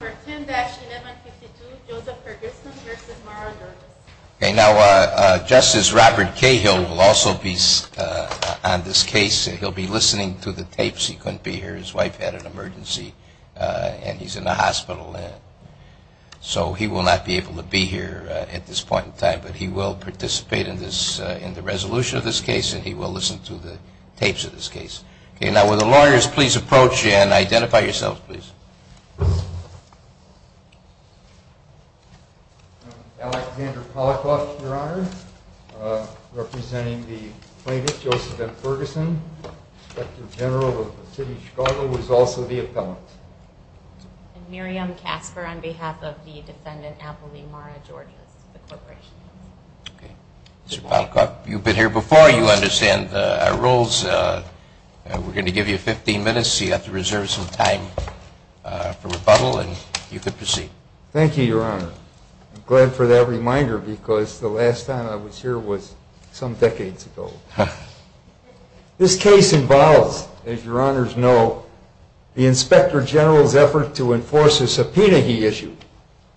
number 10-1152 Joseph Ferguson v. Margaret. Okay, now Justice Robert Cahill will also be on this case. He'll be listening to the tapes. He couldn't be here. His wife had an emergency and he's in the hospital. So he will not be able to be here at this point in time, but he will participate in the resolution of this case and he will listen to the tapes of this case. Okay, now will the lawyers please approach and identify yourselves, please. I'm Alexander Polikoff, Your Honor, representing the plaintiff, Joseph F. Ferguson, Inspector General of the City of Chicago, who is also the appellant. I'm Miriam Casper on behalf of the defendant, Apolli Mara-Jordians, the corporation. Mr. Polikoff, you've been here before. You understand our rules. We're going to give you 15 minutes so you have to reserve some time for rebuttal and you can proceed. Thank you, Your Honor. I'm glad for that reminder because the last time I was here was some decades ago. This case involves, as Your Honors know, the Inspector General's effort to enforce a subpoena he issued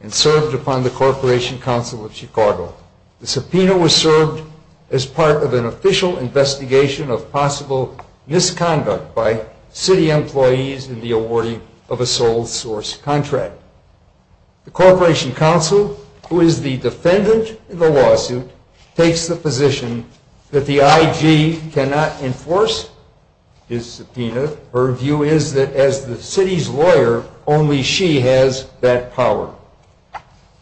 and served upon the Corporation Council of Chicago. The subpoena was served as part of an official investigation of possible misconduct by city employees in the awarding of a sole source contract. The Corporation Council, who is the defendant in the lawsuit, takes the position that the IG cannot enforce his subpoena. Her view is that as the city's lawyer, only she has that power.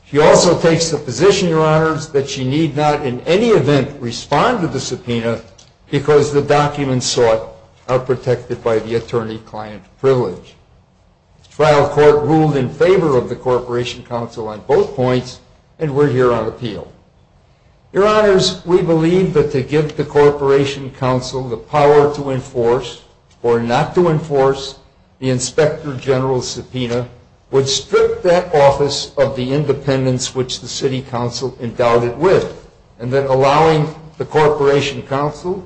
She also takes the position, Your Honors, that she need not in any event respond to the subpoena because the documents sought are protected by the attorney-client privilege. The trial court ruled in favor of the Corporation Council on both points and we're here on appeal. Your Honors, we believe that to give the Corporation Council the power to enforce or not to enforce the Inspector General's subpoena would strip that office of the independence which the city council endowed it with and then allowing the Corporation Council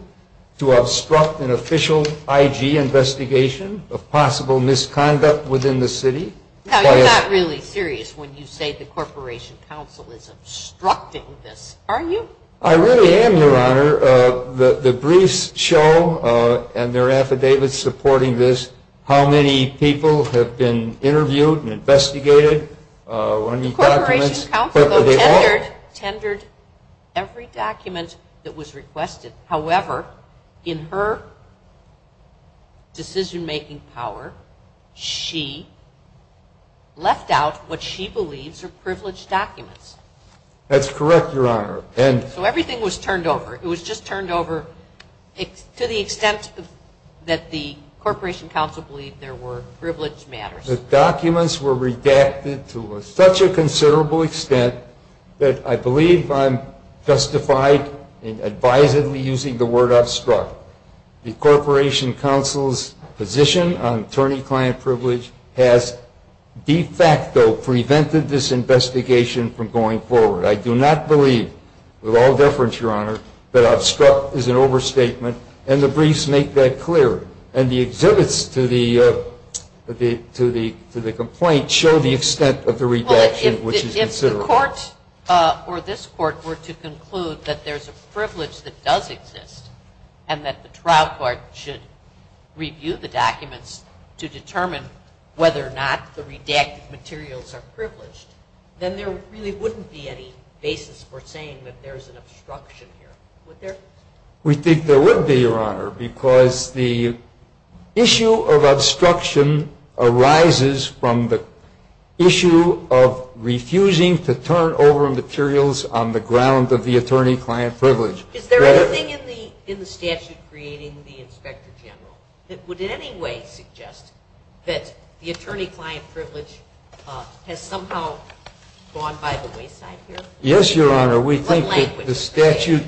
to obstruct an official IG investigation of possible misconduct within the city. Now, you're not really serious when you say the Corporation Council is obstructing this, are you? I really am, Your Honor. The briefs show and their affidavits supporting this how many people have been interviewed and investigated. The Corporation Council tendered every document that was requested. However, in her decision-making power, she left out what she believes are privileged documents. That's correct, Your Honor. So everything was turned over. It was just turned over to the extent that the Corporation Council believed there were privileged matters. The documents were redacted to such a considerable extent that I believe I'm justified in advisedly using the word obstruct. The Corporation Council's position on attorney-client privilege has de facto prevented this investigation from going forward. I do not believe, with all deference, Your Honor, that obstruct is an overstatement and the briefs make that clear. And the exhibits to the complaint show the extent of the redaction, which is considerable. Well, if the court or this court were to conclude that there's a privilege that does exist and that the trial court should review the documents to determine whether or not the redacted materials are privileged, then there really wouldn't be any basis for saying that there's an obstruction here, would there? We think there would be, Your Honor, because the issue of obstruction arises from the issue of refusing to turn over materials on the ground of the attorney-client privilege. Is there anything in the statute creating the Inspector General that would in any way suggest that the attorney-client privilege has somehow gone by the wayside here? Yes, Your Honor. We think that the statute,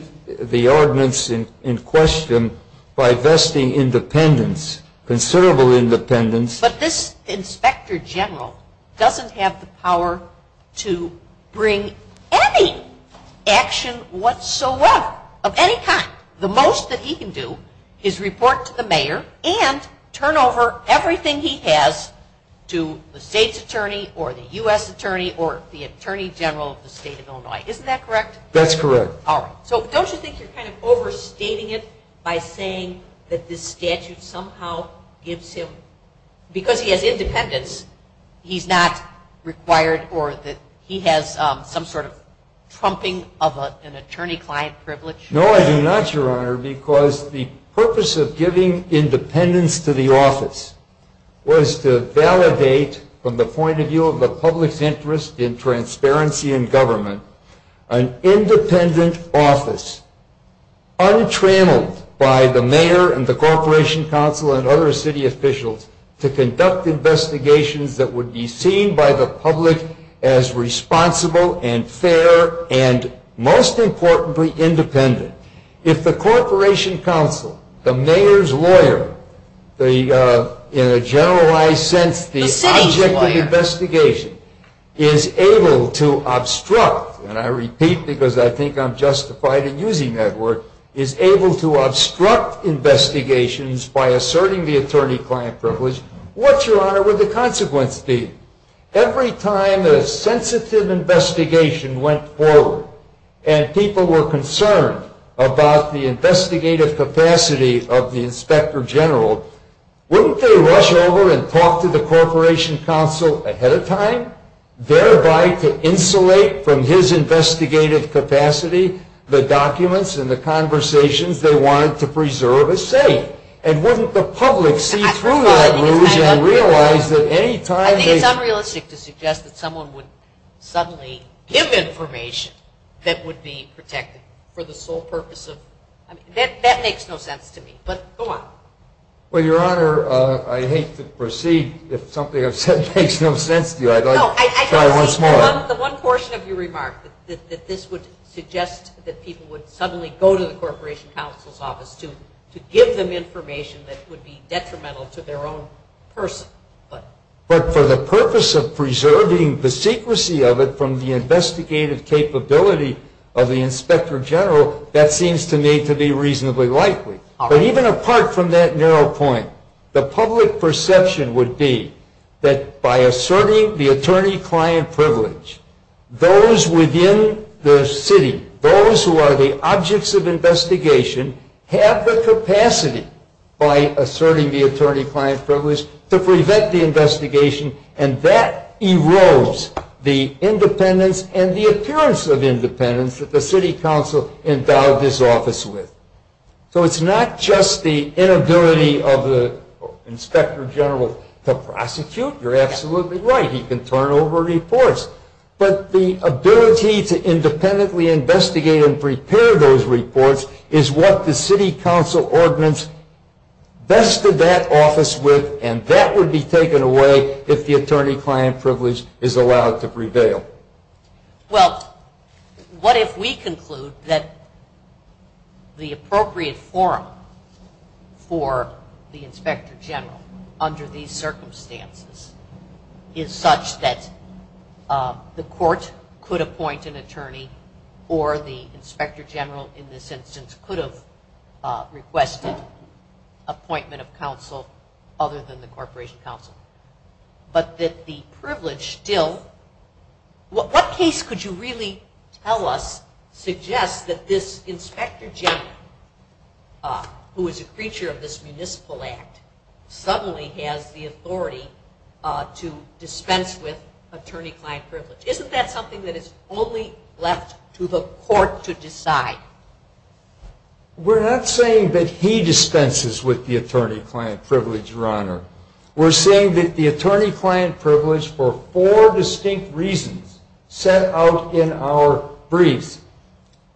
the ordinance in question, by vesting independence, considerable independence. But this Inspector General doesn't have the power to bring any action whatsoever of any kind. The most that he can do is report to the mayor and turn over everything he has to the state's attorney or the U.S. attorney or the attorney general of the state of Illinois. Isn't that correct? That's correct. All right. So don't you think you're kind of overstating it by saying that this statute somehow gives him, because he has independence, he's not required or that he has some sort of trumping of an attorney-client privilege? No, I do not, Your Honor, because the purpose of giving independence to the office was to validate, from the point of view of the public's interest in transparency in government, an independent office, untrammeled by the mayor and the Corporation Council and other city officials, to conduct investigations that would be seen by the public as responsible and fair and, most importantly, independent. If the Corporation Council, the mayor's lawyer, in a generalized sense, the object of the investigation, is able to obstruct, and I repeat because I think I'm justified in using that word, is able to obstruct investigations by asserting the attorney-client privilege, what, Your Honor, would the consequence be? Every time a sensitive investigation went forward and people were concerned about the investigative capacity of the Inspector General, wouldn't they rush over and talk to the Corporation Council ahead of time, thereby to insulate from his investigative capacity the documents and the conversations they wanted to preserve as safe? And wouldn't the public see through that and realize that any time they... I think it's unrealistic to suggest that someone would suddenly give information that would be protected for the sole purpose of... That makes no sense to me, but go on. Well, Your Honor, I hate to proceed if something I've said makes no sense to you. I'd like to try once more. No, I don't see the one portion of your remark, that this would suggest that people would suddenly go to the Corporation Council's office to give them information that would be detrimental to their own person. But for the purpose of preserving the secrecy of it from the investigative capability of the Inspector General, that seems to me to be reasonably likely. But even apart from that narrow point, the public perception would be that by asserting the attorney-client privilege, those within the city, those who are the objects of investigation, have the capacity by asserting the attorney-client privilege to prevent the investigation, and that erodes the independence and the appearance of independence that the City Council endowed this office with. So it's not just the inability of the Inspector General to prosecute. You're absolutely right. He can turn over reports. But the ability to independently investigate and prepare those reports is what the City Council ordinance vested that office with, and that would be taken away if the attorney-client privilege is allowed to prevail. Well, what if we conclude that the appropriate forum for the Inspector General under these circumstances is such that the court could appoint an attorney or the Inspector General in this instance could have requested appointment of counsel other than the Corporation Council, but that the privilege still... What case could you really tell us suggests that this Inspector General, who is a creature of this municipal act, suddenly has the authority to dispense with attorney-client privilege? Isn't that something that is only left to the court to decide? We're not saying that he dispenses with the attorney-client privilege, Your Honor. We're saying that the attorney-client privilege, for four distinct reasons set out in our briefs,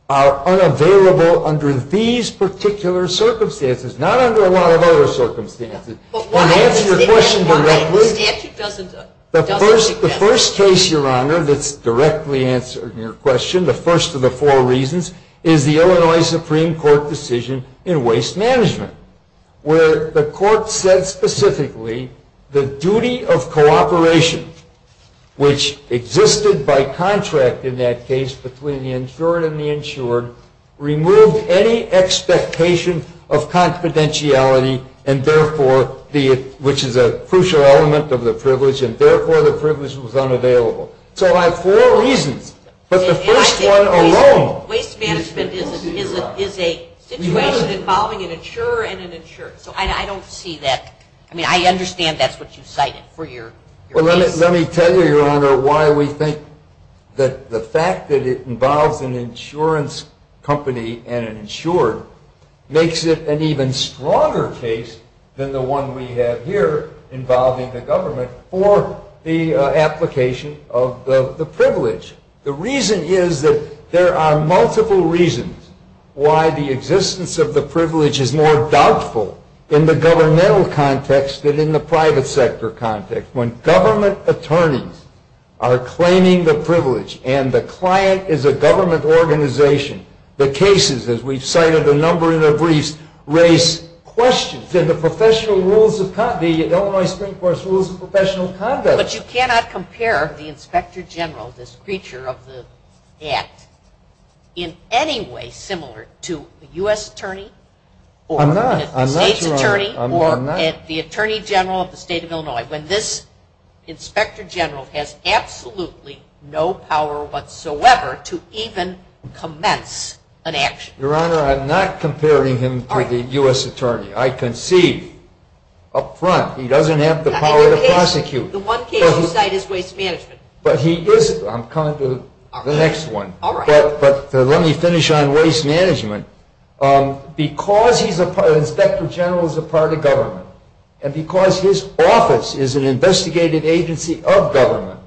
are unavailable under these particular circumstances, not under a lot of other circumstances. Can I answer your question directly? The first case, Your Honor, that's directly answering your question, the first of the four reasons, is the Illinois Supreme Court decision in waste management, where the court said specifically the duty of cooperation, which existed by contract in that case between the insured and the insured, removed any expectation of confidentiality, which is a crucial element of the privilege, and therefore the privilege was unavailable. So I have four reasons, but the first one alone... I don't see that. I mean, I understand that's what you cited for your case. Well, let me tell you, Your Honor, why we think that the fact that it involves an insurance company and an insurer makes it an even stronger case than the one we have here involving the government for the application of the privilege. The reason is that there are multiple reasons why the existence of the privilege is more doubtful in the governmental context than in the private sector context. When government attorneys are claiming the privilege and the client is a government organization, the cases, as we've cited a number in the briefs, raise questions in the Illinois Supreme Court's rules of professional conduct. But you cannot compare the inspector general, this creature of the act, in any way similar to a U.S. attorney... I'm not. I'm not, Your Honor. ...or the state's attorney, or the attorney general of the state of Illinois when this inspector general has absolutely no power whatsoever to even commence an action. Your Honor, I'm not comparing him to the U.S. attorney. I can see up front he doesn't have the power to prosecute. The one case you cite is waste management. I'm coming to the next one, but let me finish on waste management. Because the inspector general is a part of government and because his office is an investigative agency of government,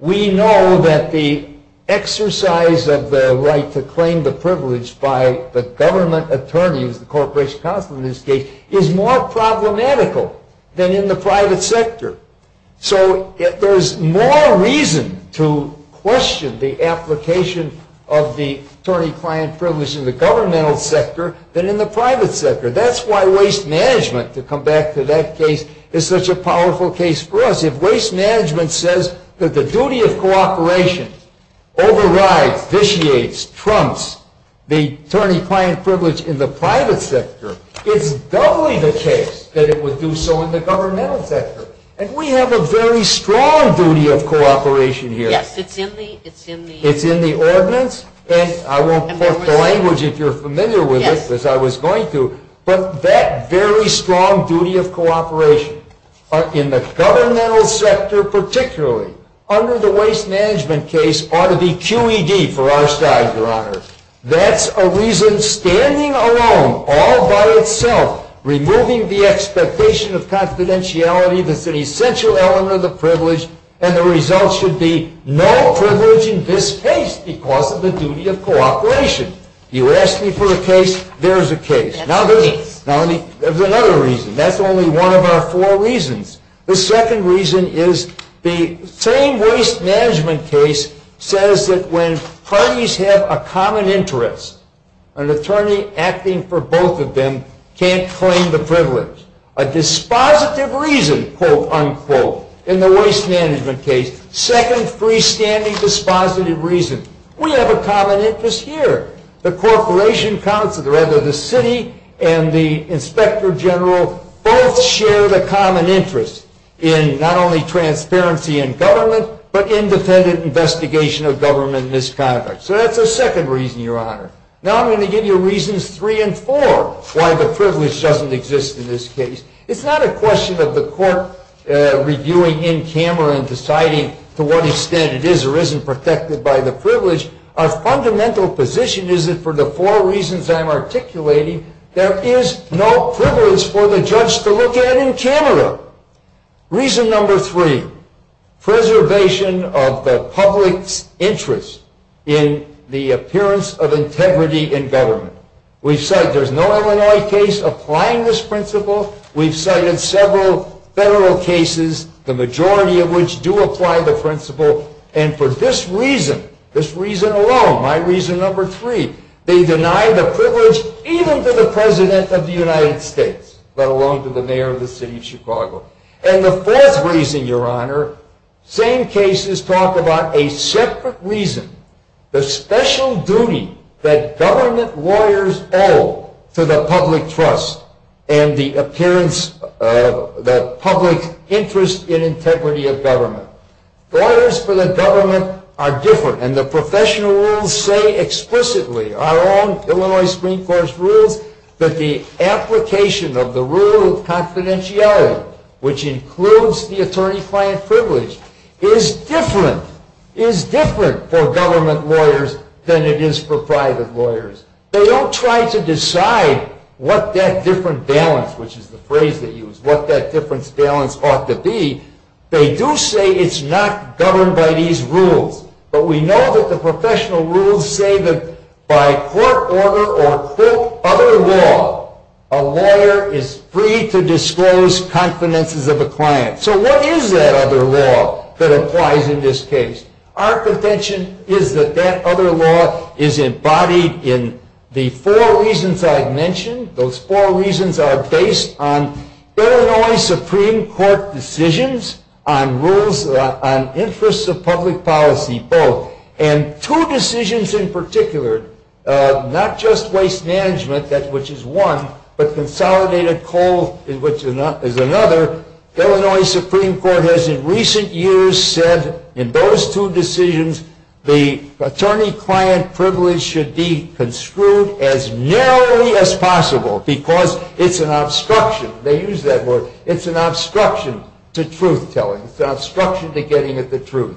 we know that the exercise of the right to claim the privilege by the government attorney, who is the corporation counsel in this case, is more problematical than in the private sector. So there's more reason to question the application of the attorney-client privilege in the governmental sector than in the private sector. That's why waste management, to come back to that case, is such a powerful case for us. If waste management says that the duty of cooperation overrides, vitiates, trumps the attorney-client privilege in the private sector, it's doubly the case that it would do so in the governmental sector. And we have a very strong duty of cooperation here. Yes, it's in the... It's in the ordinance, and I won't put the language if you're familiar with it, because I was going to, but that very strong duty of cooperation in the governmental sector particularly, under the waste management case, ought to be QED for our side, Your Honor. That's a reason standing alone, all by itself, removing the expectation of confidentiality that's an essential element of the privilege, and the result should be no privilege in this case because of the duty of cooperation. You ask me for a case, there's a case. Now there's another reason. That's only one of our four reasons. The second reason is the same waste management case says that when parties have a common interest, an attorney acting for both of them can't claim the privilege. A dispositive reason, quote, unquote, in the waste management case, second freestanding dispositive reason, we have a common interest here. The corporation council, rather the city, and the inspector general both share the common interest in not only transparency in government, but independent investigation of government misconduct. So that's the second reason, Your Honor. Now I'm going to give you reasons three and four why the privilege doesn't exist in this case. It's not a question of the court reviewing in camera and deciding to what extent it is or isn't protected by the privilege. Our fundamental position is that for the four reasons I'm articulating, there is no privilege for the judge to look at in camera. Reason number three, preservation of the public's interest in the appearance of integrity in government. We've said there's no Illinois case applying this principle. We've cited several federal cases, the majority of which do apply the principle. And for this reason, this reason alone, my reason number three, they deny the privilege even to the president of the United States, let alone to the mayor of the city of Chicago. And the fourth reason, Your Honor, same cases talk about a separate reason, the special duty that government lawyers owe to the public trust and the public interest in integrity of government. Lawyers for the government are different, and the professional rules say explicitly, our own Illinois Supreme Court's rules, that the application of the rule of confidentiality, which includes the attorney-client privilege, is different for government lawyers than it is for private lawyers. They don't try to decide what that different balance, which is the phrase they use, what that difference balance ought to be. They do say it's not governed by these rules. But we know that the professional rules say that by court order or other law, a lawyer is free to disclose confidences of a client. So what is that other law that applies in this case? Our contention is that that other law is embodied in the four reasons I've mentioned. Those four reasons are based on Illinois Supreme Court decisions on rules on interests of public policy, both. And two decisions in particular, not just waste management, which is one, but consolidated coal, which is another, Illinois Supreme Court has in recent years said in those two decisions the attorney-client privilege should be construed as narrowly as possible because it's an obstruction. They use that word. It's an obstruction to truth-telling. It's an obstruction to getting at the truth.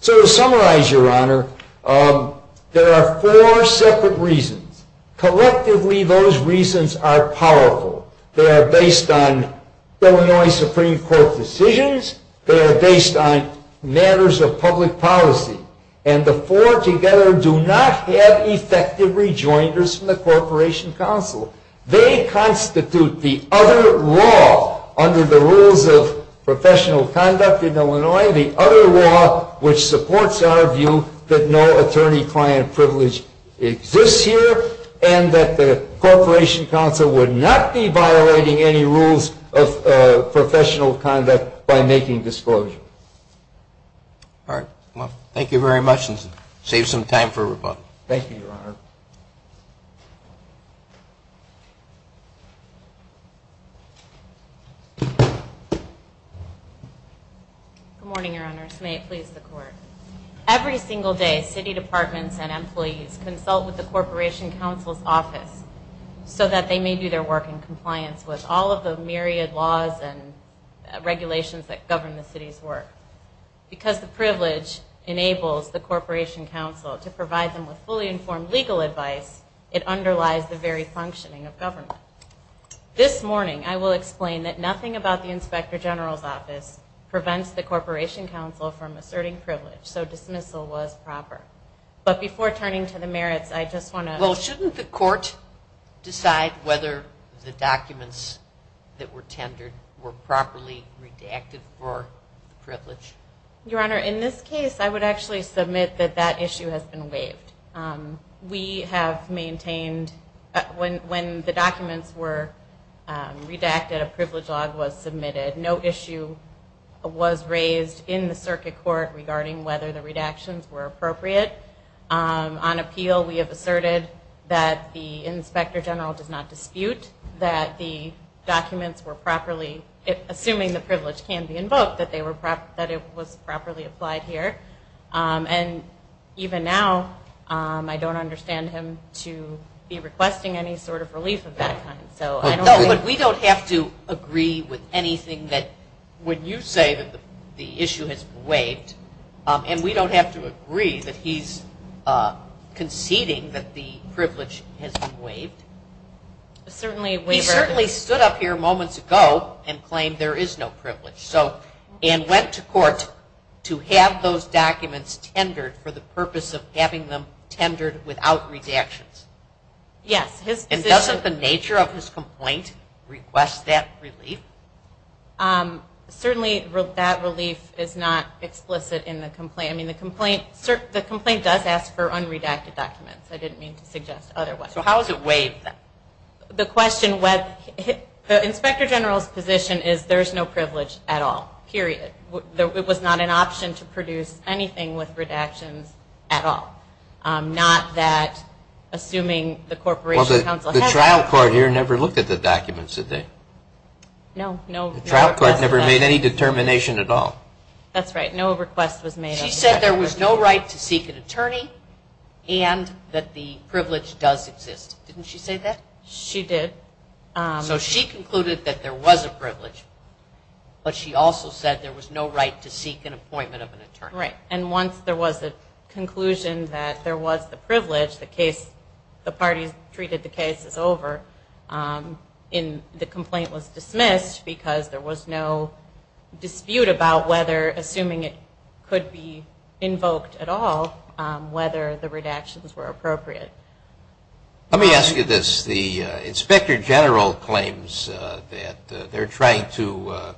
So to summarize, Your Honor, there are four separate reasons. Collectively, those reasons are powerful. They are based on Illinois Supreme Court decisions. They are based on matters of public policy. And the four together do not have effective rejoinders from the Corporation Council. They constitute the other law under the rules of professional conduct in Illinois, the other law which supports our view that no attorney-client privilege exists here and that the Corporation Council would not be violating any rules of professional conduct by making disclosure. All right. Well, thank you very much and save some time for rebuttal. Thank you, Your Honor. Good morning, Your Honors. May it please the Court. Every single day, city departments and employees consult with the Corporation Council's office so that they may do their work in compliance with all of the myriad laws and regulations that govern the city's work. Because the privilege enables the Corporation Council to provide them with fully informed legal advice, it underlies the very functioning of government. This morning, I will explain that nothing about the Inspector General's office prevents the Corporation Council from asserting privilege, so dismissal was proper. But before turning to the merits, I just want to... Well, shouldn't the court decide whether the documents that were tendered were properly redacted for privilege? Your Honor, in this case, I would actually submit that that issue has been waived. We have maintained... When the documents were redacted, a privilege law was submitted. No issue was raised in the circuit court regarding whether the redactions were appropriate. On appeal, we have asserted that the Inspector General does not dispute that the documents were properly... Assuming the privilege can be invoked, that it was properly applied here. And even now, I don't understand him to be requesting any sort of relief of that kind. No, but we don't have to agree with anything that when you say that the issue has been waived, and we don't have to agree that he's conceding that the privilege has been waived. He certainly stood up here moments ago and claimed there is no privilege, and went to court to have those documents tendered for the purpose of having them tendered without redactions. Yes, his position... And doesn't the nature of his complaint request that relief? Certainly, that relief is not explicit in the complaint. The complaint does ask for unredacted documents. I didn't mean to suggest otherwise. So how is it waived? The question... The Inspector General's position is there is no privilege at all. Period. It was not an option to produce anything with redactions at all. Not that... Assuming the Corporation Counsel... The trial court here never looked at the documents, did they? No. The trial court never made any determination at all. That's right. No request was made... She said there was no right to seek an attorney and that the privilege does exist. Didn't she say that? She did. So she concluded that there was a privilege, but she also said there was no right to seek an appointment of an attorney. Right. And once there was a conclusion that there was the privilege, the case... Then the complaint was dismissed because there was no dispute about whether, assuming it could be invoked at all, whether the redactions were appropriate. Let me ask you this. The Inspector General claims that they're trying to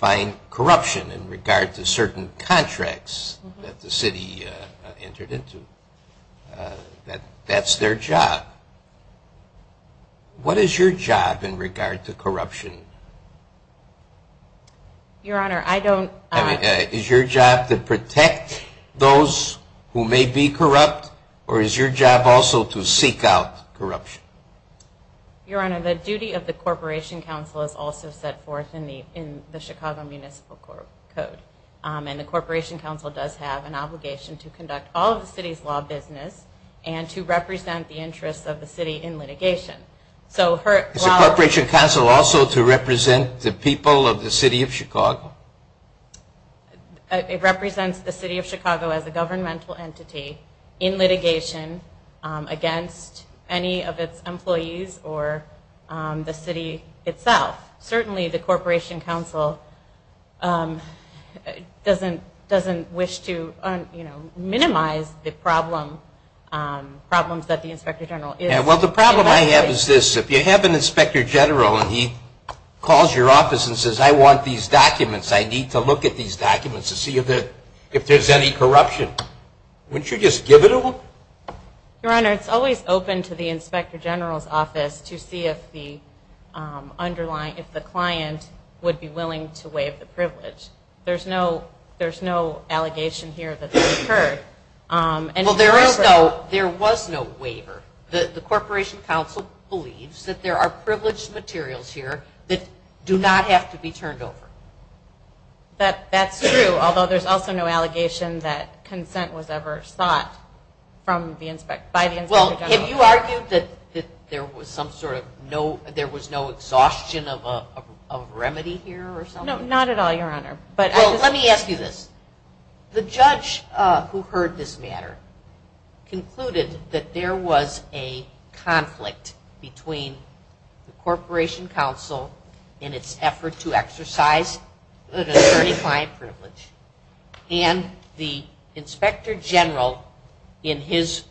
find corruption in regard to certain contracts that the city entered into. That that's their job. What is your job in regard to corruption? Your Honor, I don't... Is your job to protect those who may be corrupt or is your job also to seek out corruption? Your Honor, the duty of the Corporation Counsel is also set forth in the Chicago Municipal Code. And the Corporation Counsel does have an obligation to conduct all of the city's law business and to represent the interests of the city in litigation. Is the Corporation Counsel also to represent the people of the city of Chicago? It represents the city of Chicago as a governmental entity in litigation against any of its employees or the city itself. Certainly the Corporation Counsel doesn't wish to minimize the problems that the Inspector General is... Well, the problem I have is this. If you have an Inspector General and he calls your office and says, I want these documents, I need to look at these documents to see if there's any corruption, wouldn't you just give it to him? Your Honor, it's always open to the Inspector General's office to see if the client would be willing to waive the privilege. There's no allegation here that this occurred. Well, there was no waiver. The Corporation Counsel believes that there are privileged materials here that do not have to be turned over. That's true, although there's also no allegation that consent was ever sought by the Inspector General. Well, have you argued that there was no exhaustion of a remedy here or something? No, not at all, Your Honor. Well, let me ask you this. The judge who heard this matter concluded that there was a conflict between the Corporation Counsel in its effort to exercise an asserting client privilege and the Inspector General in his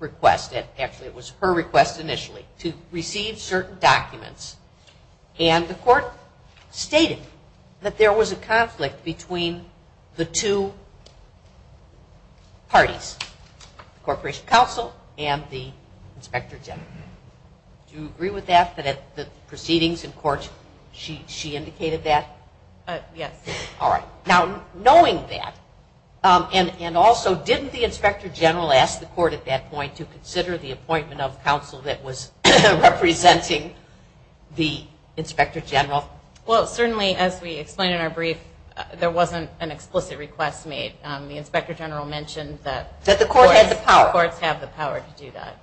request, actually it was her request initially, to receive certain documents and the court stated that there was a conflict between the two parties, the Corporation Counsel and the Inspector General. Do you agree with that, that at the proceedings in court she indicated that? Yes. All right. Now, knowing that, and also didn't the Inspector General ask the court at that point to consider the appointment of counsel that was representing the Inspector General? Well, certainly as we explained in our brief, there wasn't an explicit request made. The Inspector General mentioned that the courts have the power to do that.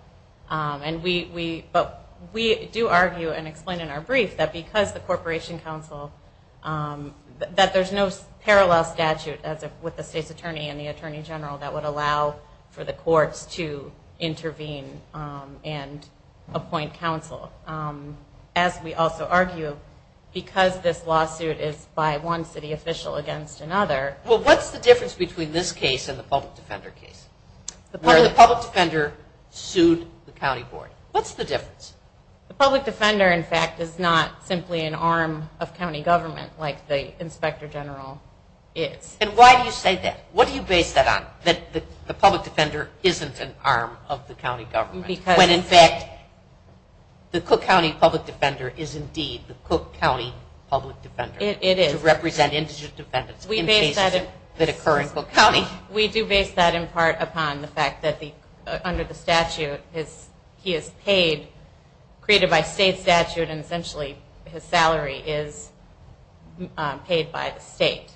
But we do argue and explain in our brief that because the Corporation Counsel, that there's no parallel statute with the state's attorney and the Attorney General that would allow for the courts to intervene and appoint counsel. As we also argue, because this lawsuit is by one city official against another. Well, what's the difference between this case and the public defender case? What's the difference? The public defender, in fact, is not simply an arm of county government like the Inspector General is. And why do you say that? What do you base that on, that the public defender isn't an arm of the county government, when in fact the Cook County public defender is indeed the Cook County public defender? It is. To represent indigent defendants in cases that occur in Cook County. We do base that in part upon the fact that under the statute he is paid, created by state statute, and essentially his salary is paid by the state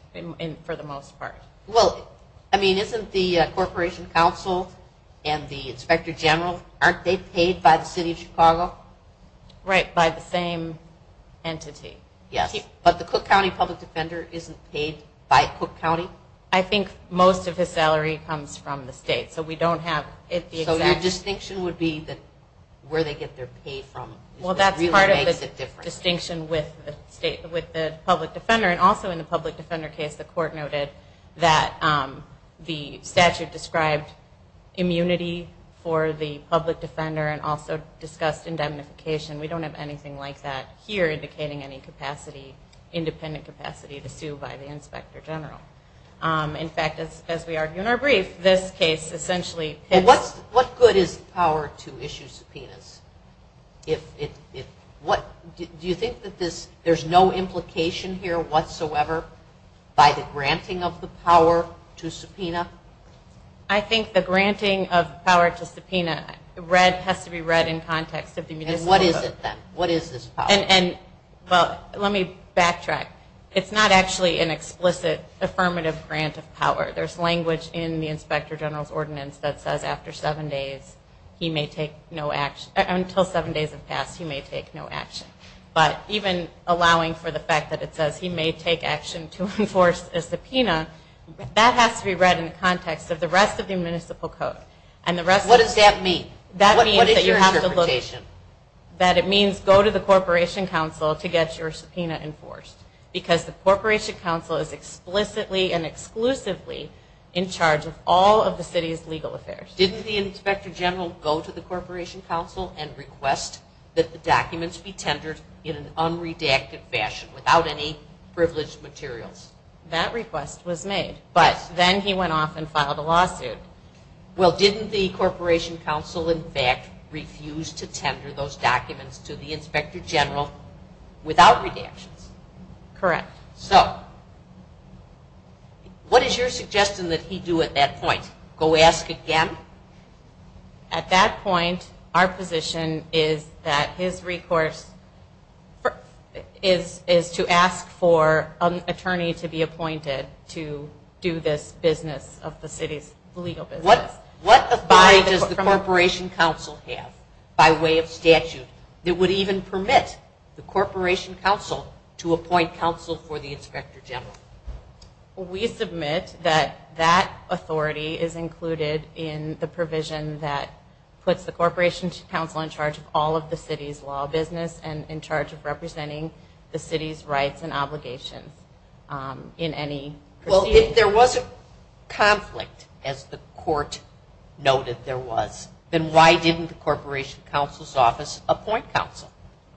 for the most part. Well, isn't the Corporation Counsel and the Inspector General, aren't they paid by the city of Chicago? Right, by the same entity. But the Cook County public defender isn't paid by Cook County? I think most of his salary comes from the state. So your distinction would be where they get their pay from? Well, that's part of the distinction with the public defender. And also in the public defender case, the court noted that the statute described immunity for the public defender and also discussed indemnification. We don't have anything like that here, indicating any independent capacity to sue by the Inspector General. In fact, as we argue in our brief, this case essentially. What good is power to issue subpoenas? Do you think that there's no implication here whatsoever by the granting of the power to subpoena? I think the granting of power to subpoena has to be read in context. And what is it then? What is this power? Well, let me backtrack. It's not actually an explicit affirmative grant of power. There's language in the Inspector General's ordinance that says, after seven days, he may take no action. Until seven days have passed, he may take no action. But even allowing for the fact that it says he may take action to enforce a subpoena, that has to be read in the context of the rest of the municipal code. What does that mean? What is your interpretation? That it means go to the Corporation Council to get your subpoena enforced. Because the Corporation Council is explicitly and exclusively in charge of all of the city's legal affairs. Didn't the Inspector General go to the Corporation Council and request that the documents be tendered in an unredacted fashion, without any privileged materials? That request was made. But then he went off and filed a lawsuit. Well, didn't the Corporation Council, in fact, refuse to tender those documents to the Inspector General without redactions? Correct. So what is your suggestion that he do at that point? Go ask again? At that point, our position is that his recourse is to ask for an attorney to be appointed to do this business of the city's legal business. What authority does the Corporation Council have by way of statute that would even permit the Corporation Council to appoint counsel for the Inspector General? We submit that that authority is included in the provision that puts the Corporation Council in charge of all of the city's law business and in charge of representing the city's rights and obligation in any procedure. Well, if there was a conflict, as the court noted there was, then why didn't the Corporation Council's office appoint counsel?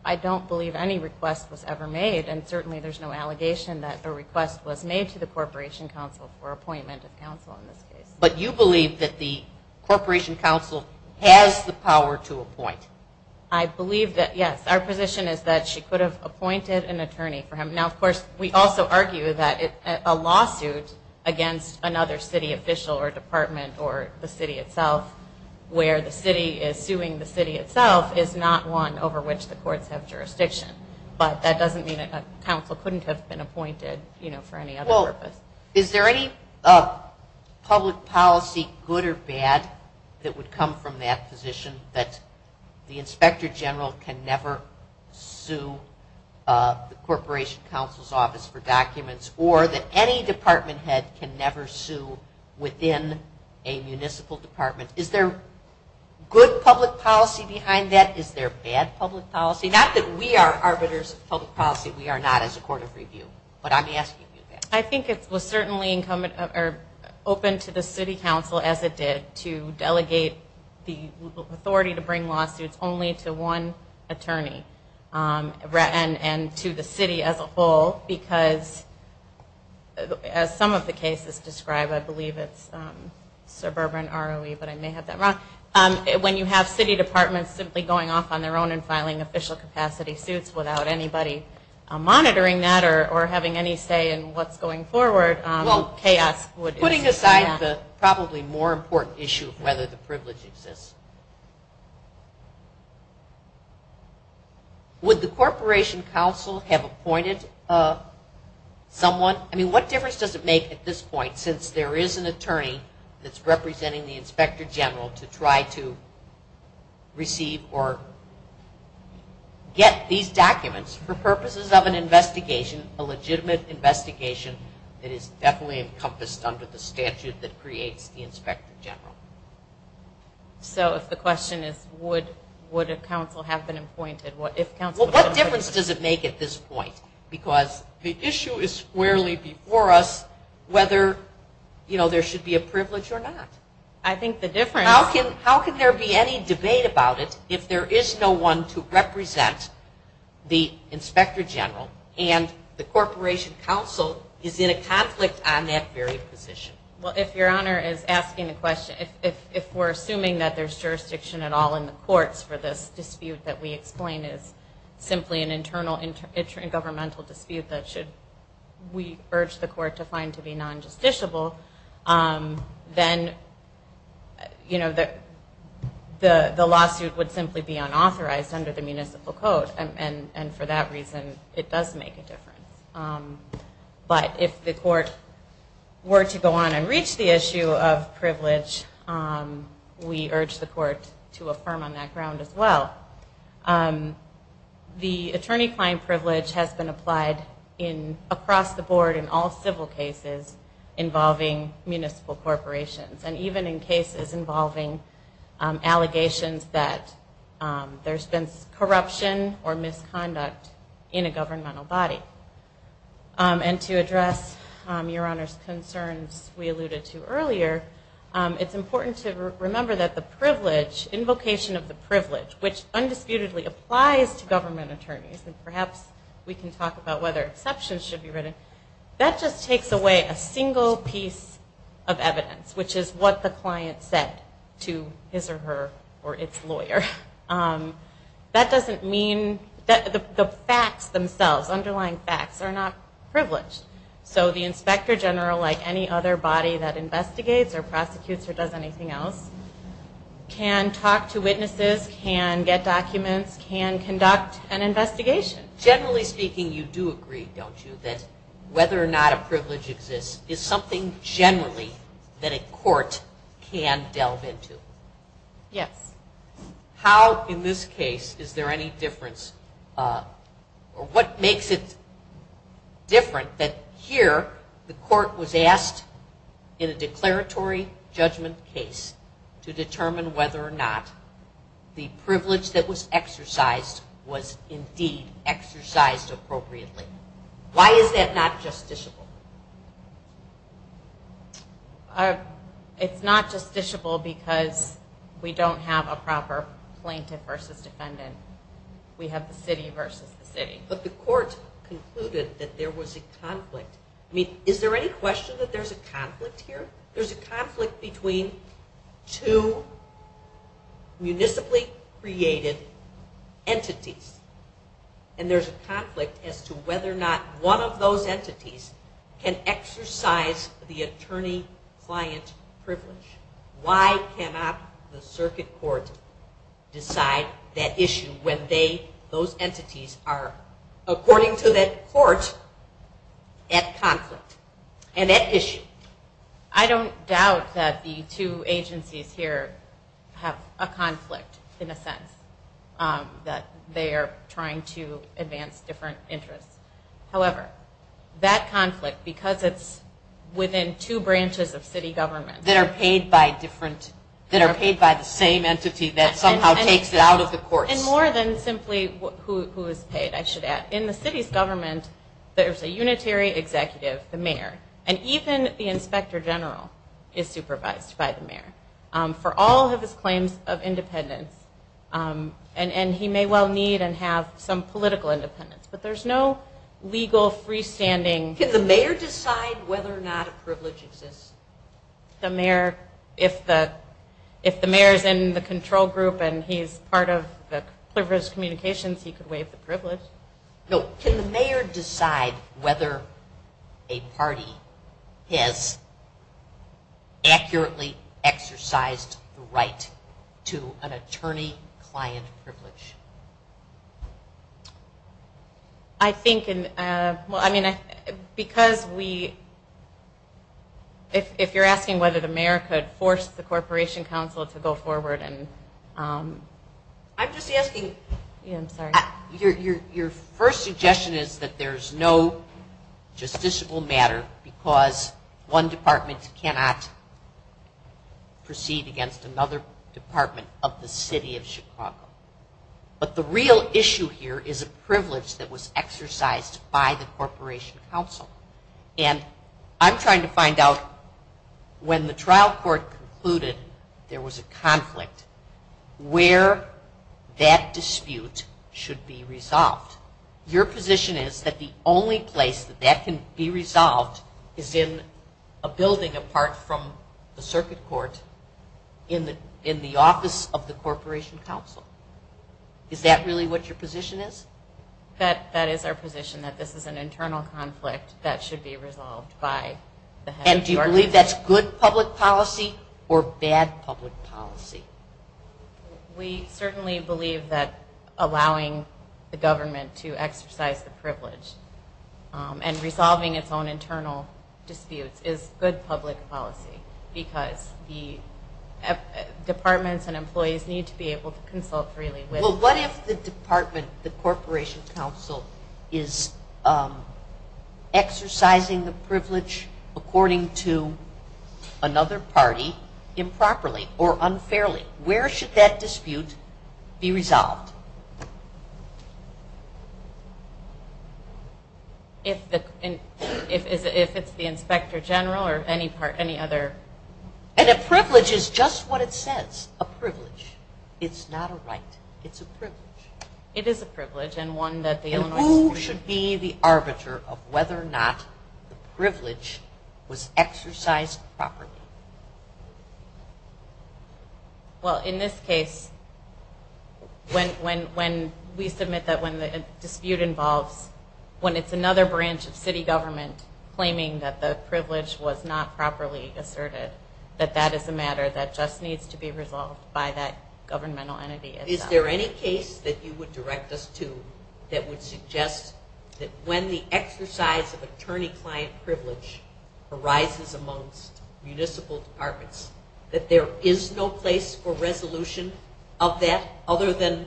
I don't believe any request was ever made, and certainly there's no allegation that a request was made to the Corporation Council for appointment of counsel in this case. But you believe that the Corporation Council has the power to appoint? I believe that, yes. Our position is that she could have appointed an attorney for him. Now, of course, we also argue that a lawsuit against another city official or department or the city itself, where the city is suing the city itself, is not one over which the courts have jurisdiction. But that doesn't mean that counsel couldn't have been appointed, you know, for any other purpose. Is there any public policy, good or bad, that would come from that position, that the inspector general can never sue the Corporation Council's office for documents or that any department head can never sue within a municipal department? Is there good public policy behind that? Is there bad public policy? Not that we are arbiters of public policy. We are not as a court of review. But I'm asking you that. I think it was certainly open to the city council, as it did, to delegate the authority to bring lawsuits only to one attorney and to the city as a whole. Because as some of the cases describe, I believe it's suburban ROE, but I may have that wrong. When you have city departments simply going off on their own and filing official capacity suits without anybody monitoring that or having any say in what's going forward, chaos. Putting aside the probably more important issue of whether the privilege exists, would the Corporation Council have appointed someone? I mean, what difference does it make at this point since there is an attorney that's representing the inspector general to try to receive or get these documents for purposes of an investigation, a legitimate investigation that is definitely encompassed under the statute that creates the inspector general? So if the question is would a council have been appointed, if council was appointed. Well, what difference does it make at this point? Because the issue is squarely before us whether there should be a privilege or not. I think the difference... How can there be any debate about it if there is no one to represent the inspector general and the Corporation Council is in a conflict on that very position? Well, if Your Honor is asking the question, if we're assuming that there's jurisdiction at all in the courts for this dispute that we explain is simply an internal governmental dispute that we urge the court to find to be non-justiciable, then the lawsuit would simply be unauthorized under the municipal code and for that reason it does make a difference. But if the court were to go on and reach the issue of privilege, we urge the court to affirm on that ground as well. The attorney-client privilege has been applied across the board in all civil cases involving municipal corporations and even in cases involving allegations that there's been corruption or misconduct in a governmental body. And to address Your Honor's concerns we alluded to earlier, it's important to remember that the privilege, invocation of the privilege, which undisputedly applies to government attorneys, and perhaps we can talk about whether exceptions should be written, that just takes away a single piece of evidence, which is what the client said to his or her or its lawyer. That doesn't mean that the facts themselves, underlying facts, are not privileged. So the inspector general, like any other body that investigates or prosecutes or does anything else, can talk to witnesses, can get documents, can conduct an investigation. Generally speaking you do agree, don't you, that whether or not a privilege exists is something generally that a court can delve into? Yes. How in this case is there any difference or what makes it different that here the court was asked in a declaratory judgment case to determine whether or not the privilege that was exercised was indeed exercised appropriately? Why is that not justiciable? It's not justiciable because we don't have a proper plaintiff versus defendant. We have the city versus the city. But the court concluded that there was a conflict. I mean is there any question that there's a conflict here? There's a conflict between two municipally created entities and there's a conflict as to whether or not one of those entities can exercise the attorney-client privilege. Why cannot the circuit court decide that issue when those entities are, according to that court, at conflict and at issue? I don't doubt that the two agencies here have a conflict in a sense. That they are trying to advance different interests. However, that conflict, because it's within two branches of city government. That are paid by different, that are paid by the same entity that somehow takes it out of the courts. And more than simply who is paid, I should add. In the city's government there's a unitary executive, the mayor. And even the inspector general is supervised by the mayor. For all of his claims of independence. And he may well need and have some political independence. But there's no legal freestanding. Can the mayor decide whether or not a privilege exists? The mayor, if the mayor's in the control group and he's part of the communications, he could waive the privilege. Can the mayor decide whether a party has accurately exercised the right to an attorney-client privilege? If you're asking whether the mayor could force the corporation council to go forward and... I'm just asking... Your first suggestion is that there's no justiciable matter because one department cannot proceed against another department of the city of Chicago. But the real issue here is a privilege that was exercised by the corporation council. And I'm trying to find out when the trial court concluded there was a conflict, where that dispute should be resolved. Your position is that the only place that that can be resolved is in a building apart from the circuit court in the office of the corporation council. Is that really what your position is? That is our position, that this is an internal conflict that should be resolved by the head of the organization. And do you believe that's good public policy or bad public policy? We certainly believe that allowing the government to exercise the privilege and resolving its own internal disputes is good public policy because the departments and employees need to be able to consult freely. Well, what if the department, the corporation council, is exercising the privilege according to another party improperly or unfairly? Where should that dispute be resolved? If it's the inspector general or any other? And a privilege is just what it says, a privilege. It's not a right. It's a privilege. It is a privilege. Who should be the arbiter of whether or not the privilege was exercised properly? Well, in this case, when we submit that when the dispute involves, when it's another branch of city government claiming that the privilege was not properly asserted, that that is a matter that just needs to be resolved by that governmental entity. Is there any case that you would direct us to that would suggest that when the exercise of attorney-client privilege arises amongst municipal departments that there is no place for resolution of that other than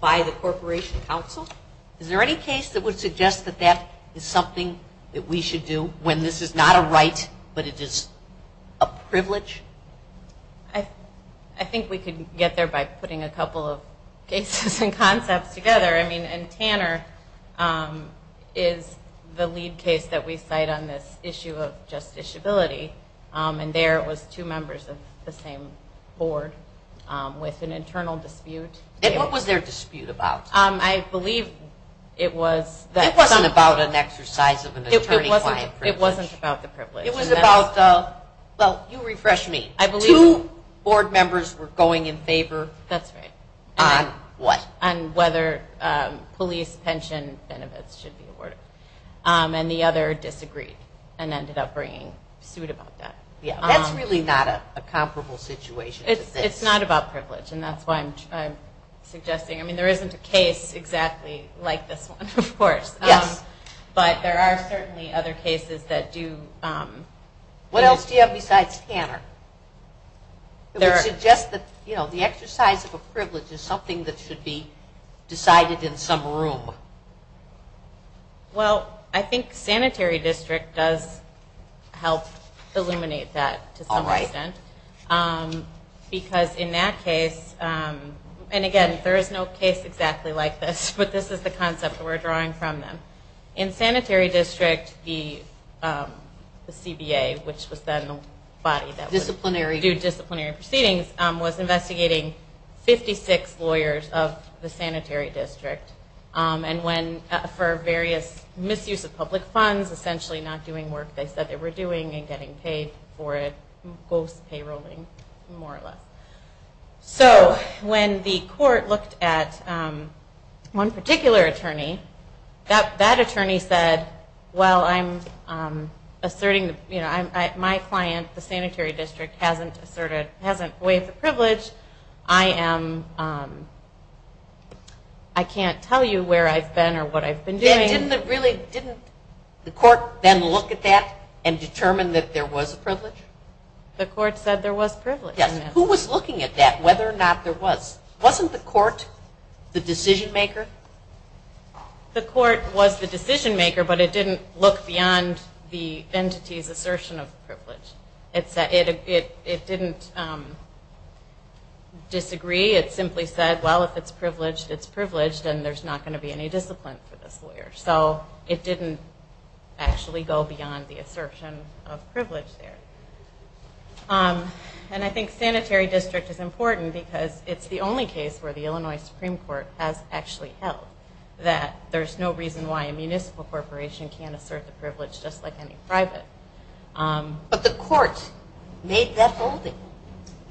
by the corporation council? Is there any case that would suggest that that is something that we should do when this is not a right but it is a privilege? I think we could get there by putting a couple of cases and concepts together. I mean, Tanner is the lead case that we cite on this issue of justiciability, and there was two members of the same board with an internal dispute. And what was their dispute about? I believe it was... It wasn't about an exercise of an attorney-client privilege. It wasn't about the privilege. Well, you refresh me. Two board members were going in favor. That's right. On what? On whether police pension benefits should be awarded. And the other disagreed and ended up bringing suit about that. That's really not a comparable situation to this. It's not about privilege, and that's why I'm suggesting. I mean, there isn't a case exactly like this one, of course. Yes. But there are certainly other cases that do. What else do you have besides Tanner? It would suggest that the exercise of a privilege is something that should be decided in some room. Well, I think sanitary district does help illuminate that to some extent. All right. Because in that case, and again, there is no case exactly like this, but this is the concept we're drawing from them. In sanitary district, the CBA, which was then the body that would do disciplinary proceedings, was investigating 56 lawyers of the sanitary district. And for various misuse of public funds, essentially not doing work they said they were doing and getting paid for it, ghost-payrolling, more or less. So when the court looked at one particular attorney, that attorney said, well, my client, the sanitary district, hasn't waived the privilege. I can't tell you where I've been or what I've been doing. Didn't the court then look at that and determine that there was a privilege? The court said there was privilege. Yes. Who was looking at that, whether or not there was? Wasn't the court the decision-maker? The court was the decision-maker, but it didn't look beyond the entity's assertion of privilege. It didn't disagree. It simply said, well, if it's privileged, it's privileged, and there's not going to be any discipline for this lawyer. So it didn't actually go beyond the assertion of privilege there. And I think sanitary district is important because it's the only case where the Illinois Supreme Court has actually held that there's no reason why a municipal corporation can't assert the privilege just like any private. But the court made that holding,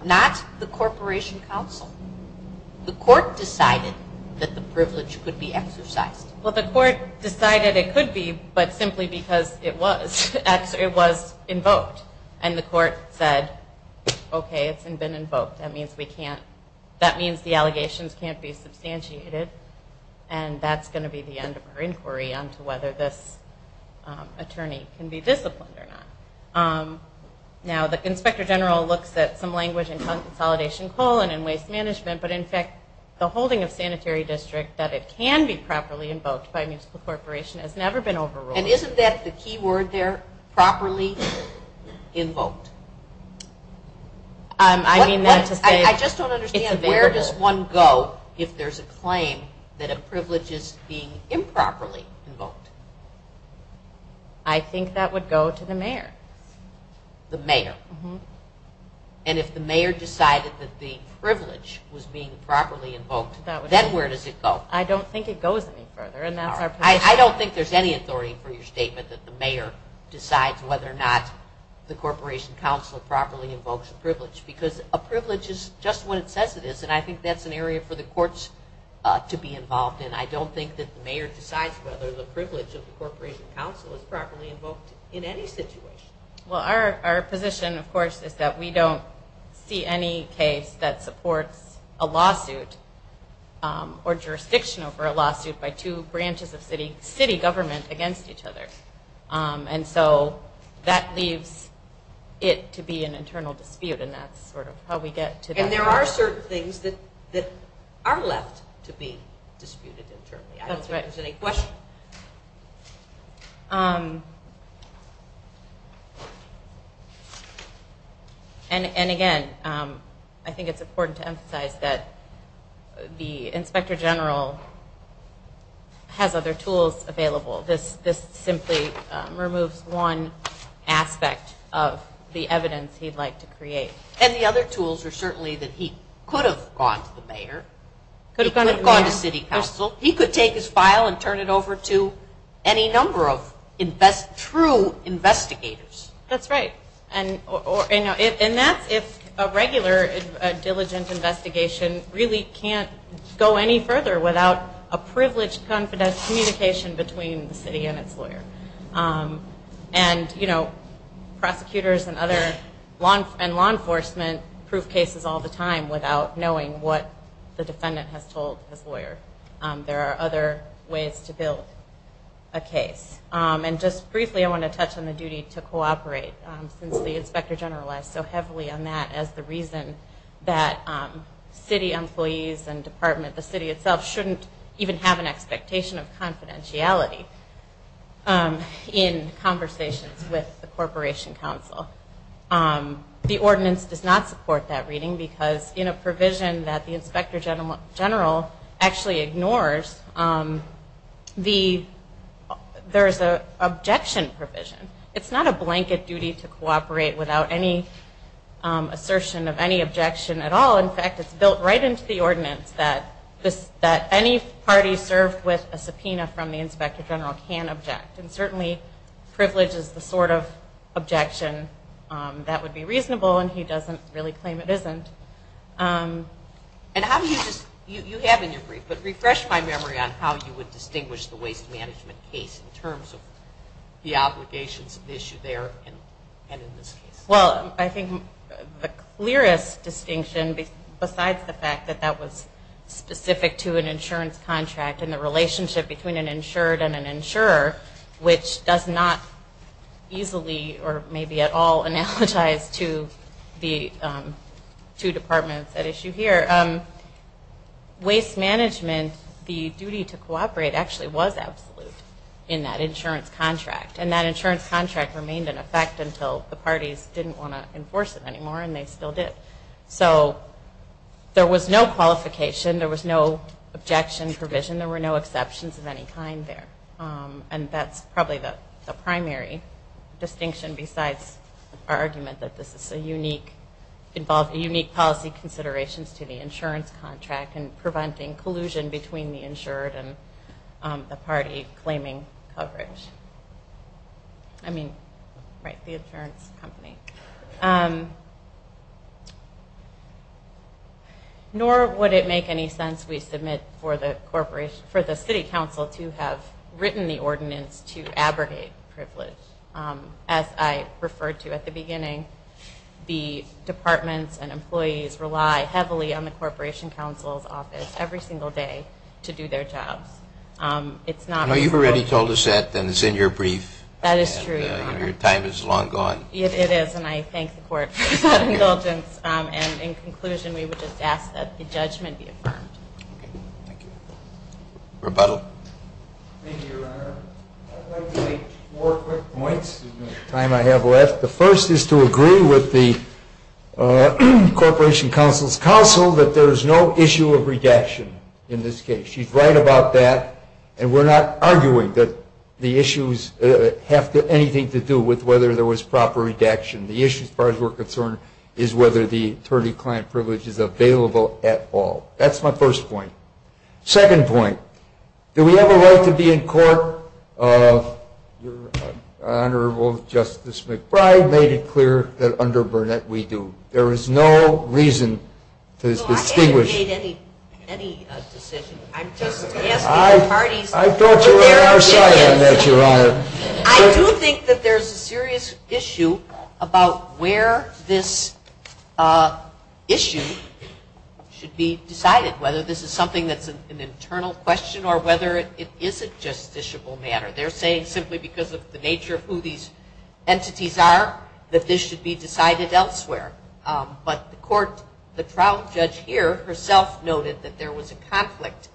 not the corporation counsel. The court decided that the privilege could be exercised. Well, the court decided it could be, but simply because it was. It was invoked. And the court said, okay, it's been invoked. That means the allegations can't be substantiated, and that's going to be the end of our inquiry on whether this attorney can be disciplined or not. Now, the inspector general looks at some language in consolidation coal and in waste management, but in fact the holding of sanitary district, that it can be properly invoked by a municipal corporation, has never been overruled. And isn't that the key word there, properly invoked? I mean that to say it's available. I just don't understand where does one go if there's a claim that a privilege is being improperly invoked? I think that would go to the mayor. The mayor. And if the mayor decided that the privilege was being properly invoked, then where does it go? I don't think it goes any further. I don't think there's any authority for your statement that the mayor decides whether or not the corporation council properly invokes a privilege, because a privilege is just what it says it is, and I think that's an area for the courts to be involved in. I don't think that the mayor decides whether the privilege Well, our position, of course, is that we don't see any case that supports a lawsuit or jurisdiction over a lawsuit by two branches of city government against each other. And so that leaves it to be an internal dispute, and that's sort of how we get to that. And there are certain things that are left to be disputed internally. That's right. I don't think there's any question. And again, I think it's important to emphasize that the inspector general has other tools available. This simply removes one aspect of the evidence he'd like to create. And the other tools are certainly that he could have gone to the mayor. He could have gone to city council. He could take his file and turn it over to any number of true investigators. That's right. And that's if a regular diligent investigation really can't go any further without a privileged, confident communication between the city and its lawyer. And prosecutors and law enforcement prove cases all the time without knowing what the defendant has told his lawyer. There are other ways to build a case. And just briefly, I want to touch on the duty to cooperate since the inspector general has so heavily on that as the reason that city employees and department, the city itself, shouldn't even have an expectation of confidentiality in conversations with the corporation council. The ordinance does not support that reading because in a provision that the inspector general actually ignores, there's an objection provision. It's not a blanket duty to cooperate without any assertion of any objection at all. In fact, it's built right into the ordinance that any party served with a subpoena from the inspector general can object. And certainly privilege is the sort of objection that would be reasonable, and he doesn't really claim it isn't. And how do you just, you have in your brief, but refresh my memory on how you would distinguish the waste management case in terms of the obligations of the issue there and in this case? Well, I think the clearest distinction besides the fact that that was specific to an insurance contract and the relationship between an insured and an insurer, which does not easily or maybe at all analogize to the two departments at issue here, waste management, the duty to cooperate, actually was absolute in that insurance contract. And that insurance contract remained in effect until the parties didn't want to enforce it anymore, and they still did. So there was no qualification. There was no objection provision. There were no exceptions of any kind there. And that's probably the primary distinction besides our argument that this involves unique policy considerations to the insurance contract and preventing collusion between the insured and the party claiming coverage. I mean, right, the insurance company. Nor would it make any sense, we submit, for the city council to have written the ordinance to abrogate privilege. As I referred to at the beginning, the departments and employees rely heavily on the corporation council's office every single day to do their jobs. No, you've already told us that, and it's in your brief. That is true, Your Honor. And your time is long gone. It is, and I thank the court for that indulgence. And in conclusion, we would just ask that the judgment be affirmed. Thank you. Rebuttal. Thank you, Your Honor. I'd like to make four quick points in the time I have left. The first is to agree with the corporation council's council that there is no issue of redaction in this case. She's right about that, and we're not arguing that the issues have anything to do with whether there was proper redaction. The issue, as far as we're concerned, is whether the attorney-client privilege is available at all. That's my first point. Second point, do we have a right to be in court? Your Honorable Justice McBride made it clear that under Burnett we do. There is no reason to distinguish. No, I haven't made any decision. I'm just asking the parties to be fair. I've brought you on our side on that, Your Honor. I do think that there's a serious issue about where this issue should be decided, whether this is something that's an internal question or whether it is a justiciable matter. They're saying simply because of the nature of who these entities are that this should be decided elsewhere. But the trial judge here herself noted that there was a conflict,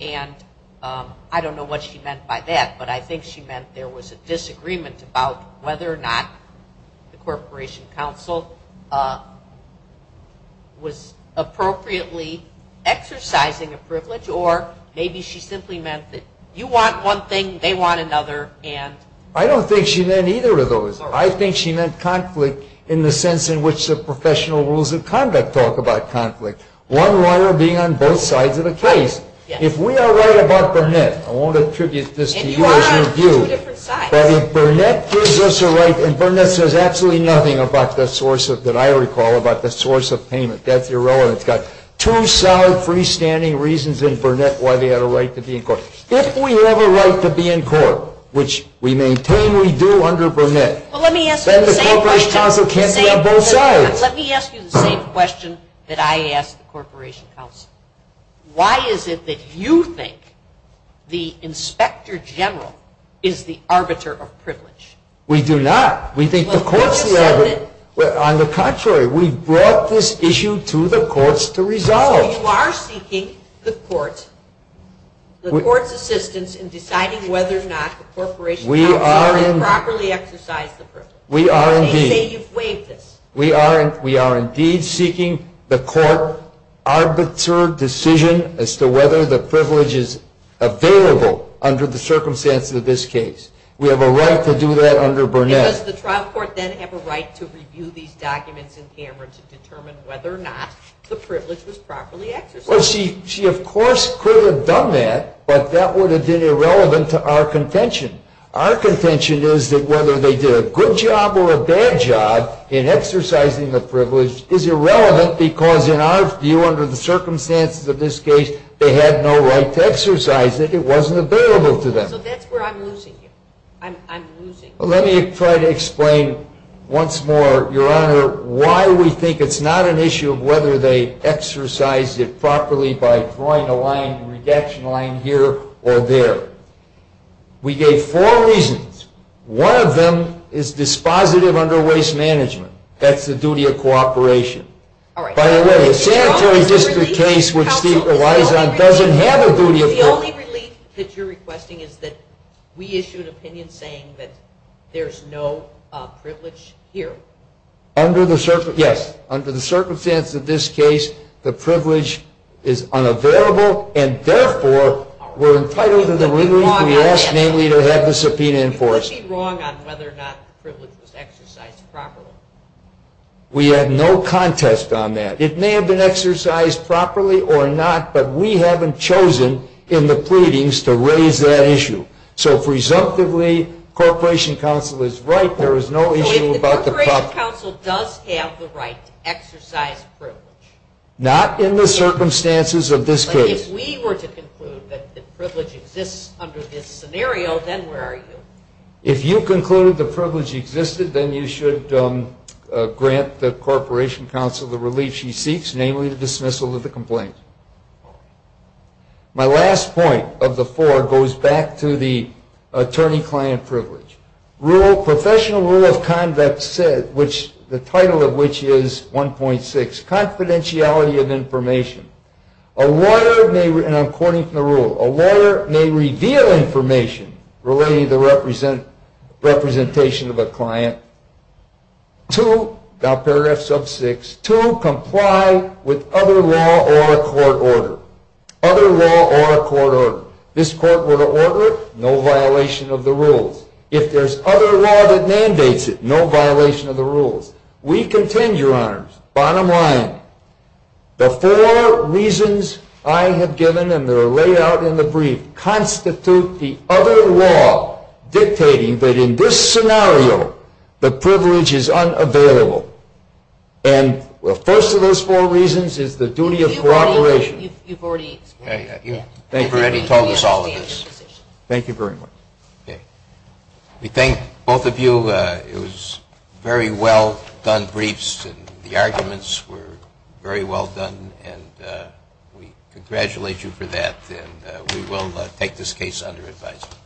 and I don't know what she meant by that, but I think she meant there was a disagreement about whether or not the corporation counsel was appropriately exercising a privilege or maybe she simply meant that you want one thing, they want another. I don't think she meant either of those. I think she meant conflict in the sense in which the professional rules of conduct talk about conflict, one lawyer being on both sides of the case. If we are right about Burnett, I won't attribute this to you as your view, but if Burnett gives us a right, and Burnett says absolutely nothing about the source that I recall, about the source of payment, that's irrelevant. It's got two solid freestanding reasons in Burnett why they had a right to be in court. If we have a right to be in court, which we maintain we do under Burnett, then the corporation counsel can't be on both sides. Let me ask you the same question that I asked the corporation counsel. Why is it that you think the inspector general is the arbiter of privilege? We do not. We think the court's level. On the contrary, we brought this issue to the courts to resolve. So you are seeking the court's assistance in deciding whether or not the corporation counsel improperly exercised the privilege. We are indeed. Let me say you've waived this. We are indeed seeking the court's arbiter decision as to whether the privilege is available under the circumstances of this case. We have a right to do that under Burnett. Does the trial court then have a right to review these documents in camera to determine whether or not the privilege was properly exercised? Well, she of course could have done that, but that would have been irrelevant to our contention. Our contention is that whether they did a good job or a bad job in exercising the privilege is irrelevant because in our view, under the circumstances of this case, they had no right to exercise it. It wasn't available to them. So that's where I'm losing you. I'm losing you. Let me try to explain once more, Your Honor, why we think it's not an issue of whether they exercised it properly by drawing a line, a redaction line here or there. We gave four reasons. One of them is dispositive under waste management. That's the duty of cooperation. By the way, the sanitary district case, which Steve relies on, doesn't have a duty of cooperation. The only relief that you're requesting is that we issued an opinion saying that there's no privilege here. Yes. Under the circumstances of this case, the privilege is unavailable and therefore we're entitled to the liberty We asked mainly to have the subpoena enforced. You could be wrong on whether or not the privilege was exercised properly. We had no contest on that. It may have been exercised properly or not, but we haven't chosen in the pleadings to raise that issue. So if, resumptively, Corporation Council is right, there is no issue about the property. If the Corporation Council does have the right to exercise privilege. Not in the circumstances of this case. If we were to conclude that the privilege exists under this scenario, then where are you? If you concluded the privilege existed, then you should grant the Corporation Council the relief she seeks, namely the dismissal of the complaint. My last point of the four goes back to the attorney-client privilege. Professional rule of conduct, the title of which is 1.6, confidentiality of information. A lawyer may, and I'm quoting from the rule, a lawyer may reveal information relating to the representation of a client to, now paragraph sub 6, to comply with other law or a court order. Other law or a court order. This court order, no violation of the rules. If there's other law that mandates it, no violation of the rules. We contend, Your Honors, bottom line, the four reasons I have given, and they're laid out in the brief, constitute the other law dictating that in this scenario, the privilege is unavailable. And the first of those four reasons is the duty of cooperation. You've already told us all of this. Thank you very much. We thank both of you. It was very well done briefs, and the arguments were very well done, and we congratulate you for that. And we will take this case under advisement.